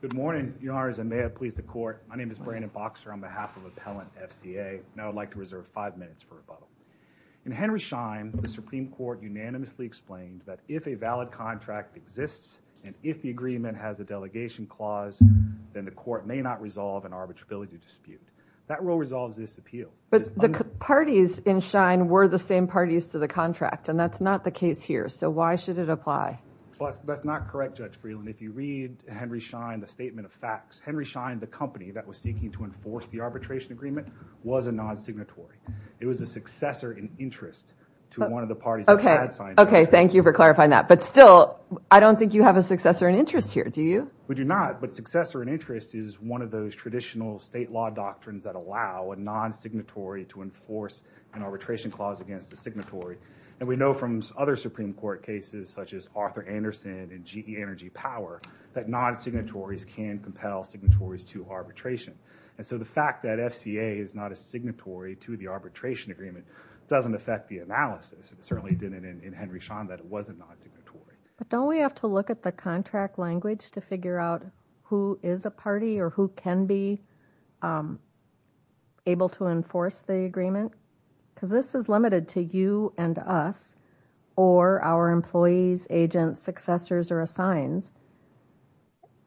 Good morning, Your Honors, and may it please the Court, my name is Brandon Boxer on behalf of Appellant FCA, and I would like to reserve five minutes for rebuttal. In Henry Schein, the Supreme Court unanimously explained that if a valid contract exists and if the agreement has a delegation clause, then the Court may not resolve an arbitrability dispute. That rule resolves this appeal. But the parties in Schein were the same parties to the contract, and that's not the case here, so why should it apply? Well, that's not correct, Judge Freeland. If you read Henry Schein, the statement of facts, Henry Schein, the company that was seeking to enforce the arbitration agreement, was a non-signatory. It was a successor in interest to one of the parties that had signed the agreement. Okay, thank you for clarifying that, but still, I don't think you have a successor in interest here, do you? We do not, but successor in interest is one of those traditional state law doctrines that allow a non-signatory to enforce an arbitration clause against a signatory, and we know from other Supreme Court cases, such as Arthur Anderson and GE Energy Power, that non-signatories can compel signatories to arbitration. And so the fact that FCA is not a signatory to the arbitration agreement doesn't affect the analysis. It certainly didn't in Henry Schein that it wasn't non-signatory. But don't we have to look at the contract language to figure out who is a party or who can be able to enforce the agreement? Because this is limited to you and us, or our employees, agents, successors, or assigns,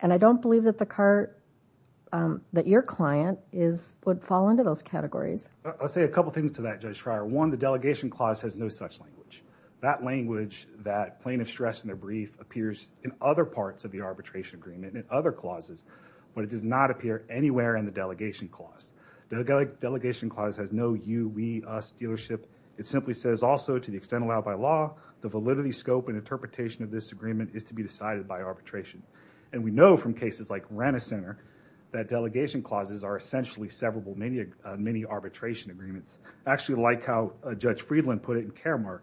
and I don't believe that your client would fall into those categories. I'll say a couple things to that, Judge Schreier. One, the delegation clause has no such language. That language, that plaintiff stressed in their brief, appears in other parts of the The delegation clause has no you, we, us dealership. It simply says also, to the extent allowed by law, the validity, scope, and interpretation of this agreement is to be decided by arbitration. And we know from cases like Rana Center that delegation clauses are essentially severable mini-arbitration agreements, actually like how Judge Friedland put it in Karamark.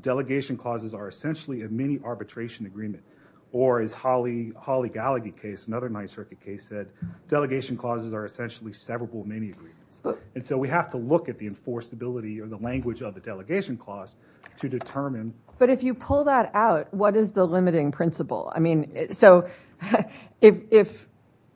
Delegation clauses are essentially a mini-arbitration agreement. Or as Holly Gallagher case, another Ninth Circuit case said, delegation clauses are essentially severable mini-agreements. And so we have to look at the enforceability or the language of the delegation clause to determine But if you pull that out, what is the limiting principle? I mean, so if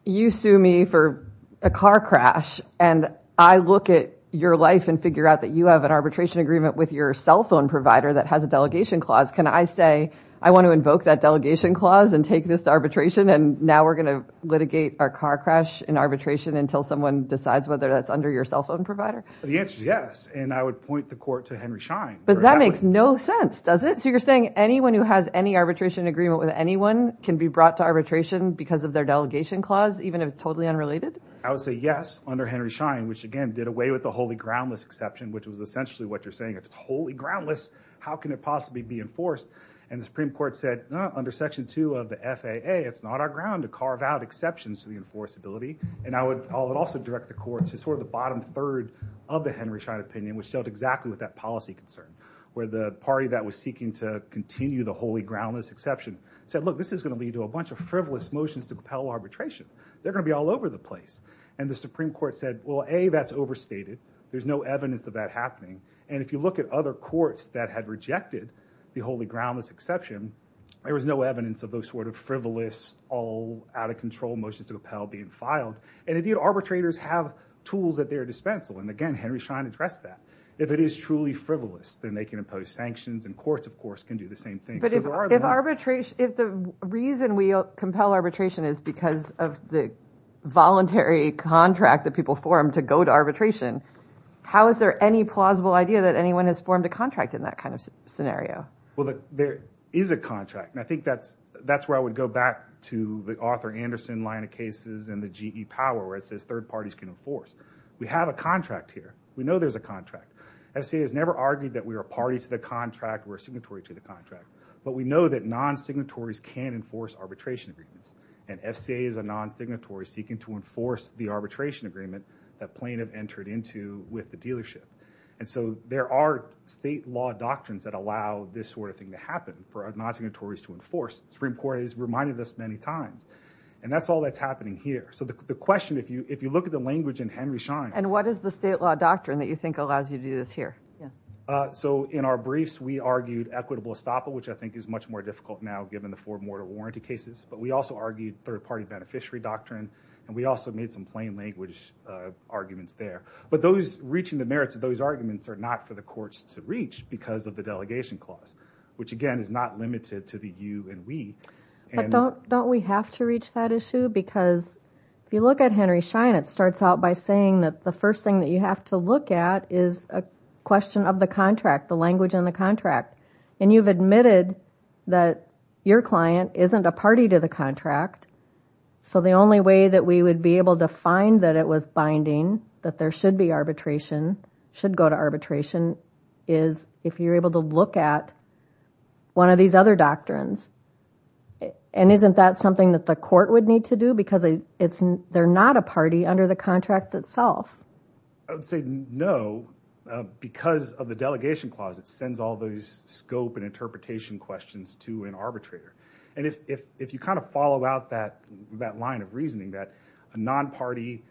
you sue me for a car crash and I look at your life and figure out that you have an arbitration agreement with your cell phone provider that has a delegation clause, can I say, I want to invoke that delegation clause and take this arbitration and now we're going to litigate our car crash in arbitration until someone decides whether that's under your cell phone provider? The answer is yes. And I would point the court to Henry Schein. But that makes no sense, does it? So you're saying anyone who has any arbitration agreement with anyone can be brought to arbitration because of their delegation clause, even if it's totally unrelated? I would say yes, under Henry Schein, which again, did away with the holy groundless exception, which was essentially what you're saying. If it's wholly groundless, how can it possibly be enforced? And the Supreme Court said, under Section 2 of the FAA, it's not our ground to carve out exceptions to the enforceability. And I would also direct the court to sort of the bottom third of the Henry Schein opinion, which dealt exactly with that policy concern, where the party that was seeking to continue the wholly groundless exception said, look, this is going to lead to a bunch of frivolous motions to propel arbitration. They're going to be all over the place. And the Supreme Court said, well, A, that's overstated. There's no evidence of that happening. And if you look at other courts that had rejected the wholly groundless exception, there was no evidence of those sort of frivolous, all out of control motions to propel being filed. And if the arbitrators have tools at their dispensal, and again, Henry Schein addressed that, if it is truly frivolous, then they can impose sanctions and courts, of course, can do the same thing. But if arbitration, if the reason we compel arbitration is because of the voluntary contract that people form to go to arbitration, how is there any plausible idea that anyone has formed a contract in that kind of scenario? Well, there is a contract, and I think that's where I would go back to the Arthur Anderson line of cases and the GE power, where it says third parties can enforce. We have a contract here. We know there's a contract. FCA has never argued that we are a party to the contract or a signatory to the contract. But we know that non-signatories can enforce arbitration agreements, and FCA is a non-signatory seeking to enforce the arbitration agreement that plaintiff entered into with the dealership. And so there are state law doctrines that allow this sort of thing to happen for non-signatories to enforce. The Supreme Court has reminded us many times. And that's all that's happening here. So the question, if you look at the language in Henry Schein And what is the state law doctrine that you think allows you to do this here? So in our briefs, we argued equitable estoppel, which I think is much more difficult now given the four mortal warranty cases. But we also argued third party beneficiary doctrine, and we also made some plain language arguments there. But those reaching the merits of those arguments are not for the courts to reach because of the delegation clause, which again is not limited to the you and we. Don't we have to reach that issue? Because if you look at Henry Schein, it starts out by saying that the first thing that you have to look at is a question of the contract, the language in the contract. And you've admitted that your client isn't a party to the contract. So the only way that we would be able to find that it was binding, that there should be arbitration, should go to arbitration, is if you're able to look at one of these other doctrines. And isn't that something that the court would need to do? Because they're not a party under the contract itself. I would say no, because of the delegation clause. It sends all those scope and interpretation questions to an arbitrator. And if you kind of follow out that line of reasoning that a non-party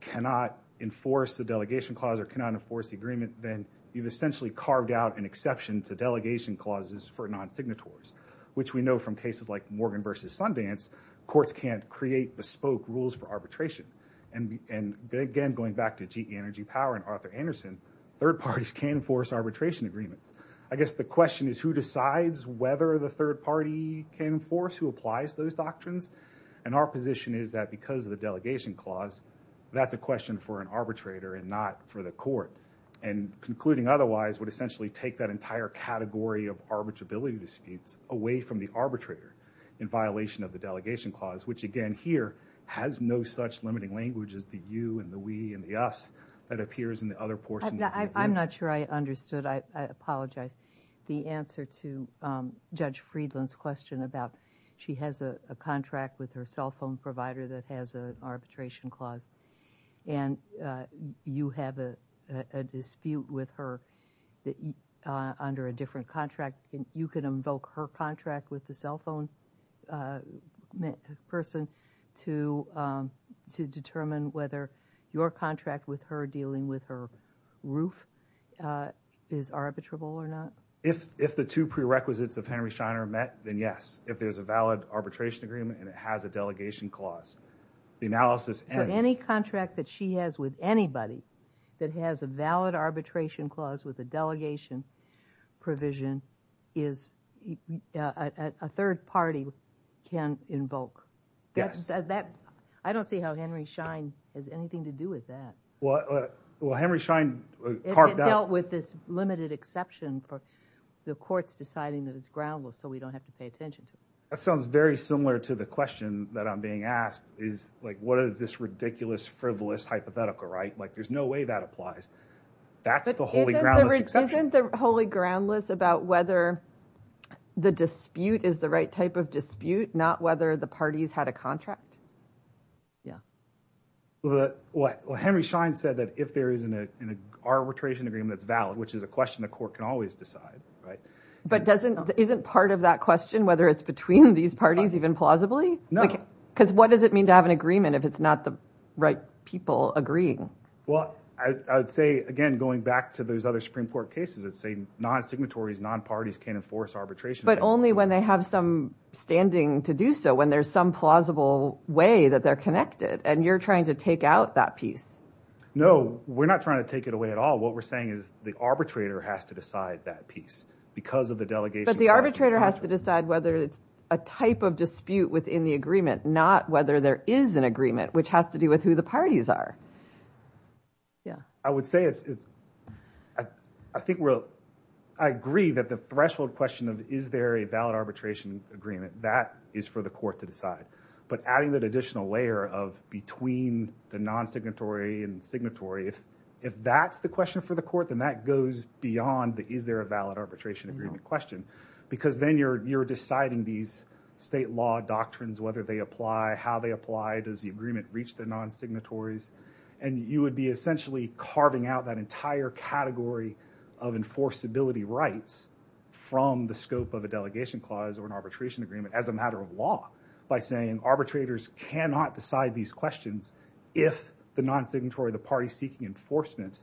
cannot enforce the delegation clause or cannot enforce the agreement, then you've essentially carved out an exception to delegation clauses for non-signatories, which we know from cases like Morgan v. Sundance, courts can't create bespoke rules for arbitration. And again, going back to GE Energy Power and Arthur Anderson, third parties can't enforce arbitration agreements. I guess the question is, who decides whether the third party can enforce, who applies those doctrines? And our position is that because of the delegation clause, that's a question for an arbitrator and not for the court. And concluding otherwise would essentially take that entire category of arbitrability disputes away from the arbitrator in violation of the delegation clause, which again here has no such limiting language as the you and the we and the us that appears in the other portions of the agreement. I'm not sure I understood. I apologize. The answer to Judge Friedland's question about she has a contract with her cell phone provider that has an arbitration clause and you have a dispute with her under a different contract, you can invoke her contract with the cell phone person to determine whether your contract with her dealing with her roof is arbitrable or not? If the two prerequisites of Henry Scheiner are met, then yes. If there's a valid arbitration agreement and it has a delegation clause. The analysis ends. For any contract that she has with anybody that has a valid arbitration clause with a third party can invoke. I don't see how Henry Schein has anything to do with that. Henry Schein dealt with this limited exception for the courts deciding that it's groundless so we don't have to pay attention to it. That sounds very similar to the question that I'm being asked is what is this ridiculous frivolous hypothetical, right? There's no way that applies. That's the holy groundless exception. Isn't the holy groundless about whether the dispute is the right type of dispute, not whether the parties had a contract? Henry Schein said that if there is an arbitration agreement that's valid, which is a question the court can always decide. But isn't part of that question whether it's between these parties even plausibly? No. Because what does it mean to have an agreement if it's not the right people agreeing? Well, I would say, again, going back to those other Supreme Court cases that say non-signatories, non-parties can't enforce arbitration. But only when they have some standing to do so, when there's some plausible way that they're connected. And you're trying to take out that piece. No, we're not trying to take it away at all. What we're saying is the arbitrator has to decide that piece because of the delegation. But the arbitrator has to decide whether it's a type of dispute within the agreement, not whether there is an agreement, which has to do with who the parties are. I agree that the threshold question of is there a valid arbitration agreement, that is for the court to decide. But adding that additional layer of between the non-signatory and signatory, if that's the question for the court, then that goes beyond the is there a valid arbitration agreement question. Because then you're deciding these state law doctrines, whether they apply, how they apply, does the agreement reach the non-signatories. And you would be essentially carving out that entire category of enforceability rights from the scope of a delegation clause or an arbitration agreement as a matter of law by saying arbitrators cannot decide these questions if the non-signatory, the party seeking enforcement,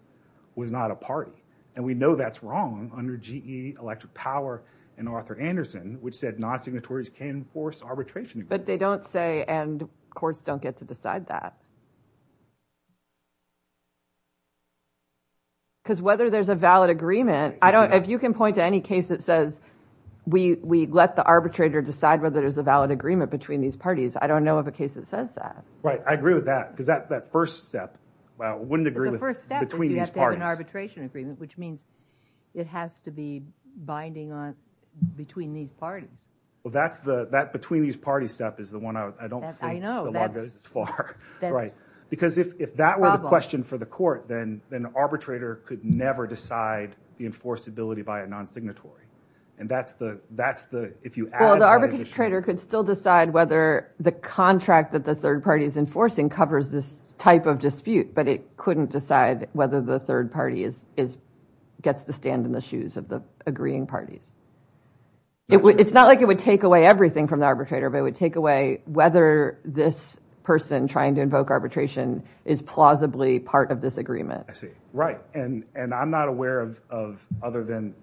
was not a party. And we know that's wrong under GE, Electric Power, and Arthur Anderson, which said non-signatories can enforce arbitration agreements. But they don't say and courts don't get to decide that. Because whether there's a valid agreement, if you can point to any case that says we let the arbitrator decide whether there's a valid agreement between these parties, I don't know of a case that says that. Right. I agree with that. Because that first step, I wouldn't agree with between these parties. But if you have an arbitration agreement, which means it has to be binding on between these parties. Well, that between these parties step is the one I don't think the law goes as far. Because if that were the question for the court, then the arbitrator could never decide the enforceability by a non-signatory. And that's the, if you add that to the issue. Well, the arbitrator could still decide whether the contract that the third party is enforcing covers this type of dispute. But it couldn't decide whether the third party gets the stand in the shoes of the agreeing parties. It's not like it would take away everything from the arbitrator, but it would take away whether this person trying to invoke arbitration is plausibly part of this agreement. I see. Right. And I'm not aware of, other than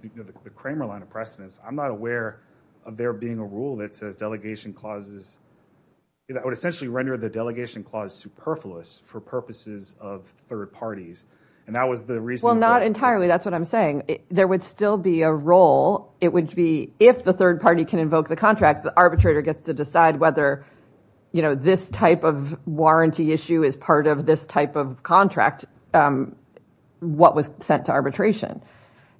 the Kramer line of precedence, I'm not aware of there being a rule that says delegation clauses, that would essentially render the delegation clause superfluous for purposes of third parties. And that was the reason. Well, not entirely. That's what I'm saying. There would still be a role. It would be, if the third party can invoke the contract, the arbitrator gets to decide whether this type of warranty issue is part of this type of contract. What was sent to arbitration.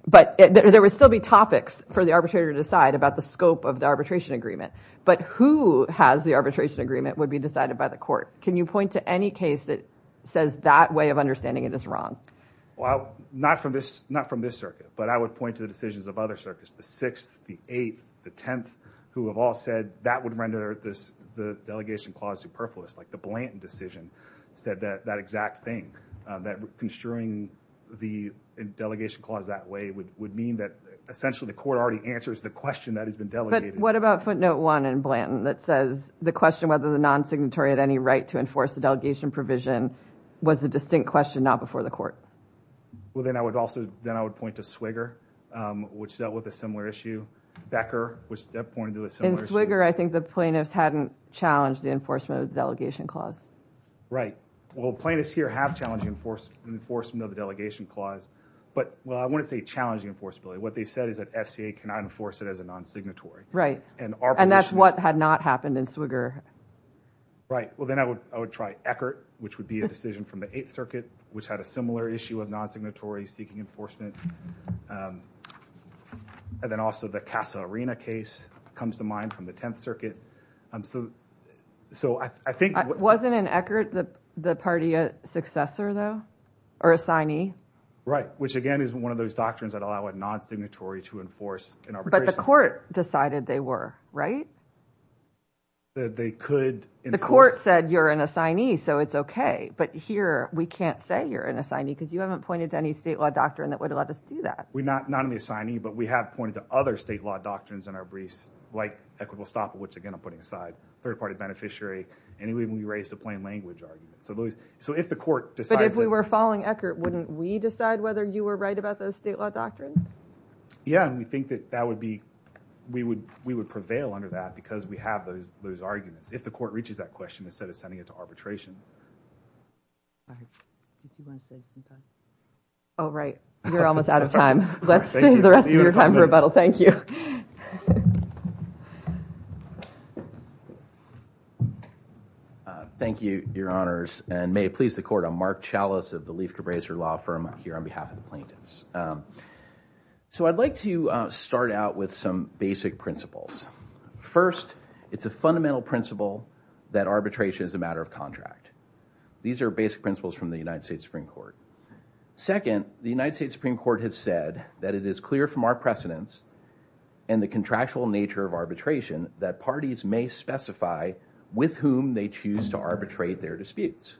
But there would still be topics for the arbitrator to decide about the scope of the arbitration agreement. But who has the arbitration agreement would be decided by the court. Can you point to any case that says that way of understanding it is wrong? Well, not from this, not from this circuit, but I would point to the decisions of other circuits, the sixth, the eighth, the 10th, who have all said that would render this, the delegation clause superfluous, like the Blanton decision said that that exact thing that construing the delegation clause that way would, would mean that essentially the court already answers the question that has been delegated. What about footnote one in Blanton that says the question, whether the non-signatory had any right to enforce the delegation provision was a distinct question, not before the court? Well, then I would also, then I would point to Swigger, which dealt with a similar issue. Becker, which pointed to a similar issue. In Swigger, I think the plaintiffs hadn't challenged the enforcement of the delegation clause. Right. Well, plaintiffs here have challenging enforce, enforcement of the delegation clause, but well, I wouldn't say challenging enforceability. What they've said is that FCA cannot enforce it as a non-signatory. Right. And that's what had not happened in Swigger. Right. Well, then I would, I would try Eckert, which would be a decision from the eighth circuit, which had a similar issue of non-signatory seeking enforcement. And then also the Casa Arena case comes to mind from the 10th circuit. So I think wasn't an Eckert, the party, a successor though, or a signee, right? Which again is one of those doctrines that allow a non-signatory to enforce an arbitration. But the court decided they were, right? They could enforce. The court said you're an assignee, so it's okay. But here we can't say you're an assignee because you haven't pointed to any state law doctrine that would let us do that. We're not, not an assignee, but we have pointed to other state law doctrines in our briefs like equitable stop, which again, I'm putting aside third-party beneficiary, and we raised a plain language argument. So those, so if the court decides. But if we were following Eckert, wouldn't we decide whether you were right about those state law doctrines? Yeah. And we think that that would be, we would, we would prevail under that because we have those, those arguments. If the court reaches that question, instead of sending it to arbitration. All right. Oh, right. You're almost out of time. Let's save the rest of your time for rebuttal. Thank you. Thank you, your honors. And may it please the court. I'm Mark Chalice of the Leif Cabraser Law Firm here on behalf of the plaintiffs. So I'd like to start out with some basic principles. First, it's a fundamental principle that arbitration is a matter of contract. These are basic principles from the United States Supreme Court. Second, the United States Supreme Court has said that it is clear from our precedents and the contractual nature of arbitration that parties may specify with whom they choose to arbitrate their disputes.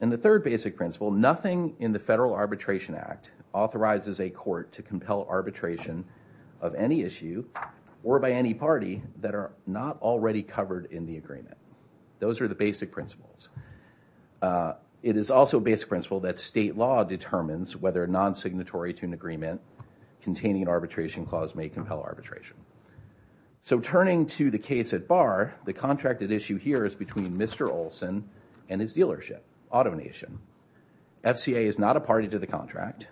And the third basic principle, nothing in the Federal Arbitration Act authorizes a court to compel arbitration of any issue or by any party that are not already covered in the Those are the basic principles. It is also a basic principle that state law determines whether non-signatory to an agreement containing an arbitration clause may compel arbitration. So turning to the case at bar, the contracted issue here is between Mr. Olson and his dealership, AutoNation. FCA is not a party to the contract.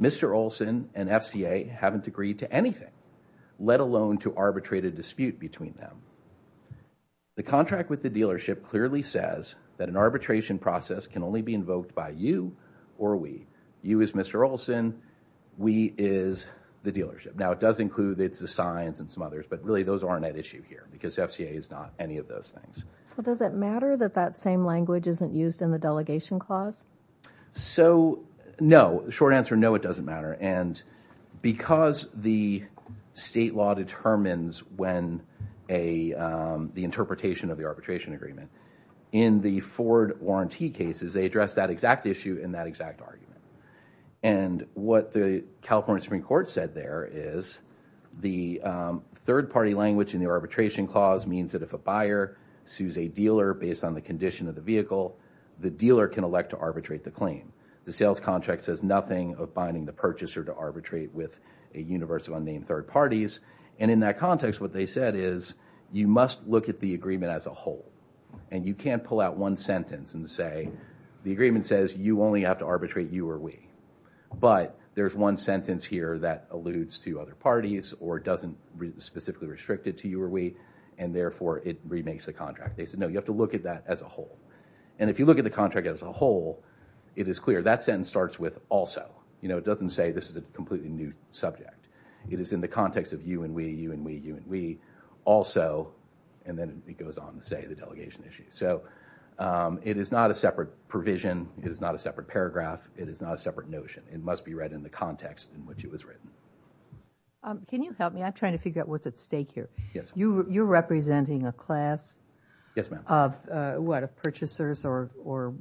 Mr. Olson and FCA haven't agreed to anything, let alone to arbitrate a dispute between them. The contract with the dealership clearly says that an arbitration process can only be invoked by you or we. You is Mr. Olson. We is the dealership. Now it does include the signs and some others, but really those aren't at issue here because FCA is not any of those things. So does it matter that that same language isn't used in the delegation clause? So no, short answer, no, it doesn't matter. And because the state law determines when the interpretation of the arbitration agreement in the Ford warranty cases, they address that exact issue in that exact argument. And what the California Supreme Court said there is the third party language in the arbitration clause means that if a buyer sues a dealer based on the condition of the vehicle, the dealer can elect to arbitrate the claim. The sales contract says nothing of binding the purchaser to arbitrate with a universe of unnamed third parties. And in that context, what they said is you must look at the agreement as a whole. And you can't pull out one sentence and say the agreement says you only have to arbitrate you or we. But there's one sentence here that alludes to other parties or doesn't specifically restrict it to you or we, and therefore it remakes the contract. They said no, you have to look at that as a whole. And if you look at the contract as a whole, it is clear that sentence starts with also. You know, it doesn't say this is a completely new subject. It is in the context of you and we, you and we, you and we, also, and then it goes on to say the delegation issue. So it is not a separate provision, it is not a separate paragraph, it is not a separate notion. It must be read in the context in which it was written. Can you help me? I'm trying to figure out what's at stake here. You're representing a class of what, of purchasers or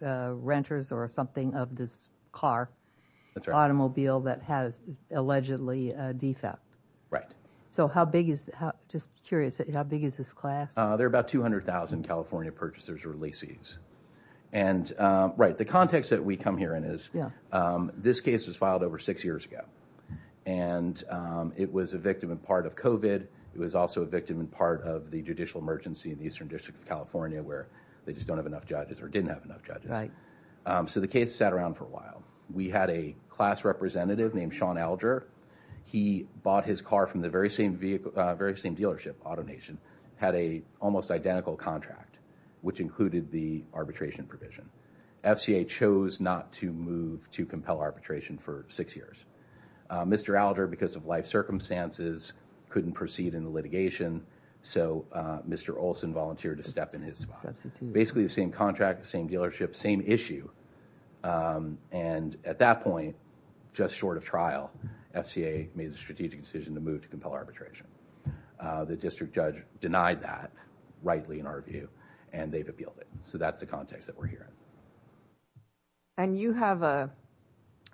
renters or something of this car, automobile that has allegedly a defect. So how big is, just curious, how big is this class? They're about 200,000 California purchasers or laces. And right, the context that we come here in is this case was filed over six years ago. And it was a victim in part of COVID, it was also a victim in part of the judicial emergency in the Eastern District of California where they just don't have enough judges or didn't have enough judges. Right. So the case sat around for a while. We had a class representative named Sean Alger. He bought his car from the very same dealership, AutoNation, had a almost identical contract, which included the arbitration provision. FCA chose not to move to compel arbitration for six years. Mr. Alger, because of life circumstances, couldn't proceed in the litigation. So Mr. Olson volunteered to step in his spot. Basically the same contract, same dealership, same issue. And at that point, just short of trial, FCA made a strategic decision to move to compel arbitration. The district judge denied that, rightly in our view, and they've appealed it. So that's the context that we're here in. And you have a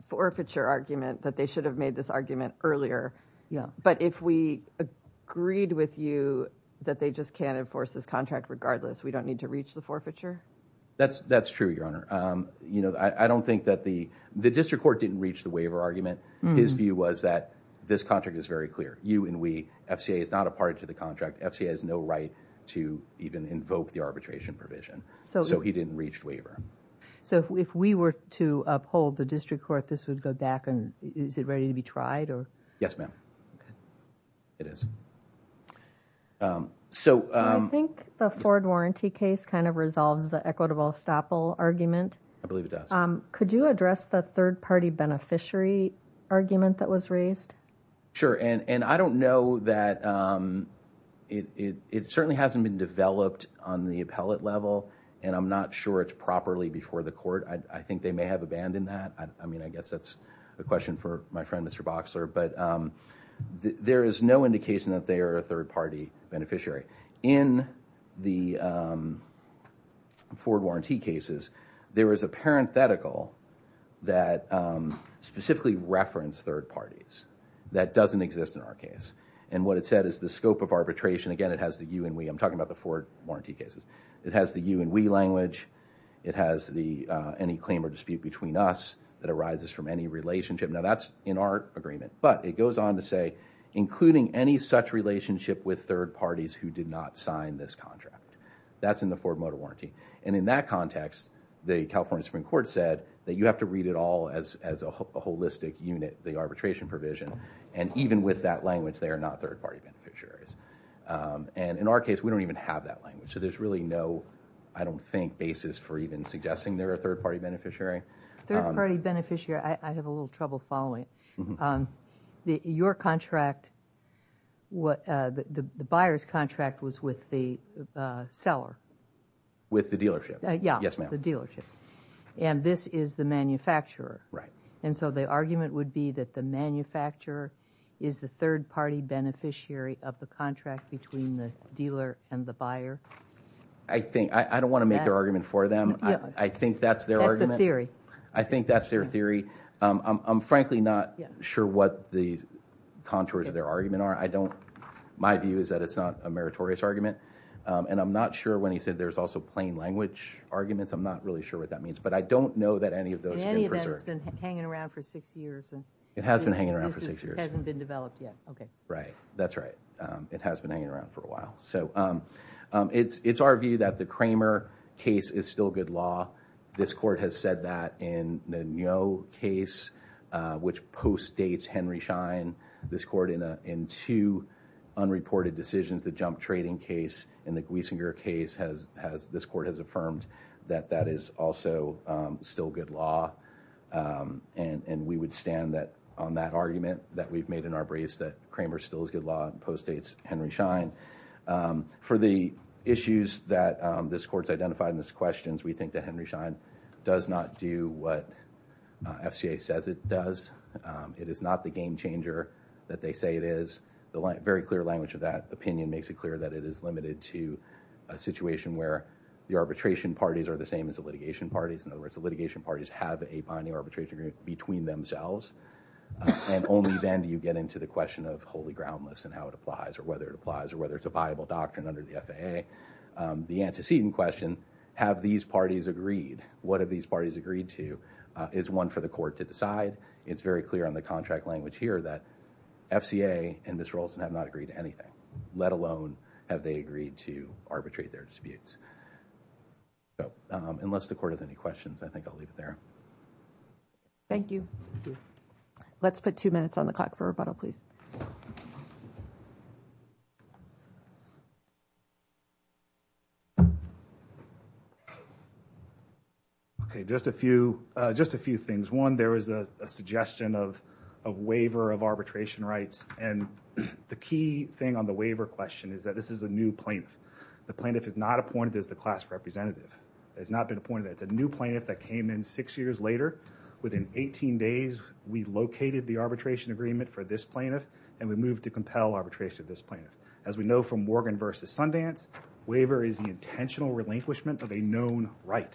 forfeiture argument that they should have made this argument earlier. But if we agreed with you that they just can't enforce this contract regardless, we don't need to reach the forfeiture? That's true, Your Honor. I don't think that the district court didn't reach the waiver argument. His view was that this contract is very clear. You and we, FCA is not a party to the contract. FCA has no right to even invoke the arbitration provision. So he didn't reach the waiver. So if we were to uphold the district court, this would go back and is it ready to be tried? Yes, ma'am. Okay. It is. So I think the forward warranty case kind of resolves the equitable estoppel argument. I believe it does. Could you address the third party beneficiary argument that was raised? Sure. And I don't know that it certainly hasn't been developed on the appellate level. And I'm not sure it's properly before the court. I think they may have abandoned that. I mean, I guess that's a question for my friend, Mr. Boxer. But there is no indication that they are a third party beneficiary. In the forward warranty cases, there is a parenthetical that specifically referenced third parties that doesn't exist in our case. And what it said is the scope of arbitration, again, it has the you and we. I'm talking about the forward warranty cases. It has the you and we language. It has any claim or dispute between us that arises from any relationship. Now, that's in our agreement. But it goes on to say including any such relationship with third parties who did not sign this contract. That's in the forward warranty. And in that context, the California Supreme Court said that you have to read it all as a holistic unit, the arbitration provision. And even with that language, they are not third party beneficiaries. And in our case, we don't even have that language. So there's really no, I don't think, basis for even suggesting they're a third party beneficiary. Third party beneficiary, I have a little trouble following. Your contract, the buyer's contract was with the seller. With the dealership. Yes, ma'am. The dealership. And this is the manufacturer. And so the argument would be that the manufacturer is the third party beneficiary of the contract between the dealer and the buyer? I think, I don't want to make an argument for them. I think that's their argument. That's their theory. I think that's their theory. I'm frankly not sure what the contours of their argument are. My view is that it's not a meritorious argument. And I'm not sure, when he said there's also plain language arguments, I'm not really sure what that means. But I don't know that any of those have been preserved. In any event, it's been hanging around for six years. It has been hanging around for six years. And this hasn't been developed yet. Okay. Right. That's right. It has been hanging around for a while. So it's our view that the Kramer case is still good law. This court has said that in the Ngo case, which postdates Henry Schein. This court in two unreported decisions, the Jump Trading case and the Gleisinger case, this court has affirmed that that is also still good law. And we would stand on that argument that we've made in our briefs that Kramer still is good law and postdates Henry Schein. For the issues that this court's identified in these questions, we think that Henry Schein does not do what FCA says it does. It is not the game changer that they say it is. Very clear language of that opinion makes it clear that it is limited to a situation where the arbitration parties are the same as the litigation parties. In other words, the litigation parties have a binding arbitration agreement between themselves. And only then do you get into the question of wholly groundless and how it applies or whether it applies or whether it's a viable doctrine under the FAA. The antecedent question, have these parties agreed? What have these parties agreed to is one for the court to decide. It's very clear on the contract language here that FCA and Ms. Raulston have not agreed to anything, let alone have they agreed to arbitrate their disputes. So, unless the court has any questions, I think I'll leave it there. Thank you. Thank you. Let's put two minutes on the clock for rebuttal, please. Okay. Just a few, just a few things. One, there was a suggestion of waiver of arbitration rights. And the key thing on the waiver question is that this is a new plaintiff. The plaintiff is not appointed as the class representative. Has not been appointed. It's a new plaintiff that came in six years later. Within 18 days, we located the arbitration agreement for this plaintiff and we moved to compel arbitration of this plaintiff. As we know from Morgan v. Sundance, waiver is the intentional relinquishment of a known right.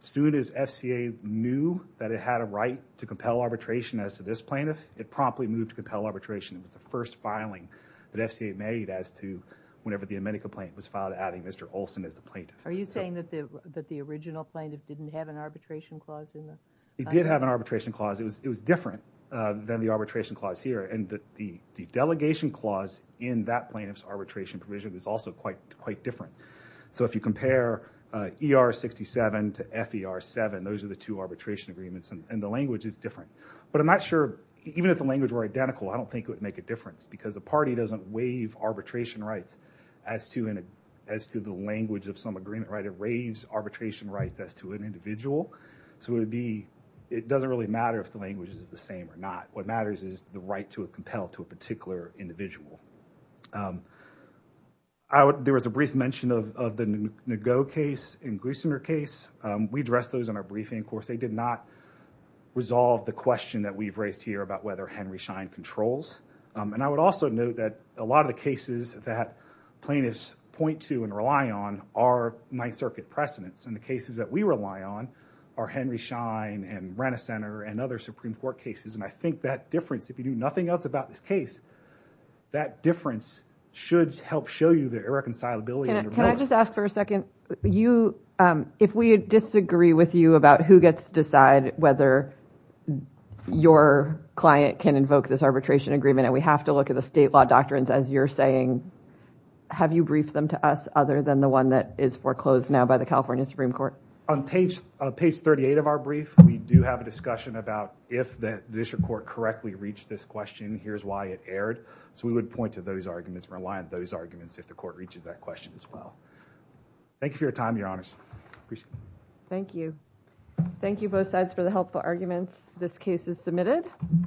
Soon as FCA knew that it had a right to compel arbitration as to this plaintiff, it promptly moved to compel arbitration. It was the first filing that FCA made as to whenever the amenity complaint was filed adding Mr. Olson as the plaintiff. Are you saying that the original plaintiff didn't have an arbitration clause? He did have an arbitration clause. It was different than the arbitration clause here. And the delegation clause in that plaintiff's arbitration provision is also quite different. So if you compare ER67 to FER7, those are the two arbitration agreements and the language is different. But I'm not sure, even if the language were identical, I don't think it would make a difference because a party doesn't waive arbitration rights as to the language of some agreement. It waives arbitration rights as to an individual. So it doesn't really matter if the language is the same or not. What matters is the right to compel to a particular individual. There was a brief mention of the Nego case and Gleisinger case. We addressed those in our briefing. Of course, they did not resolve the question that we've raised here about whether Henry Schein controls. And I would also note that a lot of the cases that plaintiffs point to and rely on are Ninth Circuit precedents. And the cases that we rely on are Henry Schein and Renner Center and other Supreme Court cases. And I think that difference, if you do nothing else about this case, that difference should help show you the irreconcilability. Can I just ask for a second? If we disagree with you about who gets to decide whether your client can invoke this arbitration agreement and we have to look at the state law doctrines as you're saying, have you briefed them to us other than the one that is foreclosed now by the California Supreme Court? On page 38 of our brief, we do have a discussion about if the district court correctly reached this question, here's why it erred. So we would point to those arguments, rely on those arguments if the court reaches that question as well. Thank you for your time, Your Honors. Thank you. Thank you both sides for the helpful arguments. This case is submitted. Thank you. Thank you.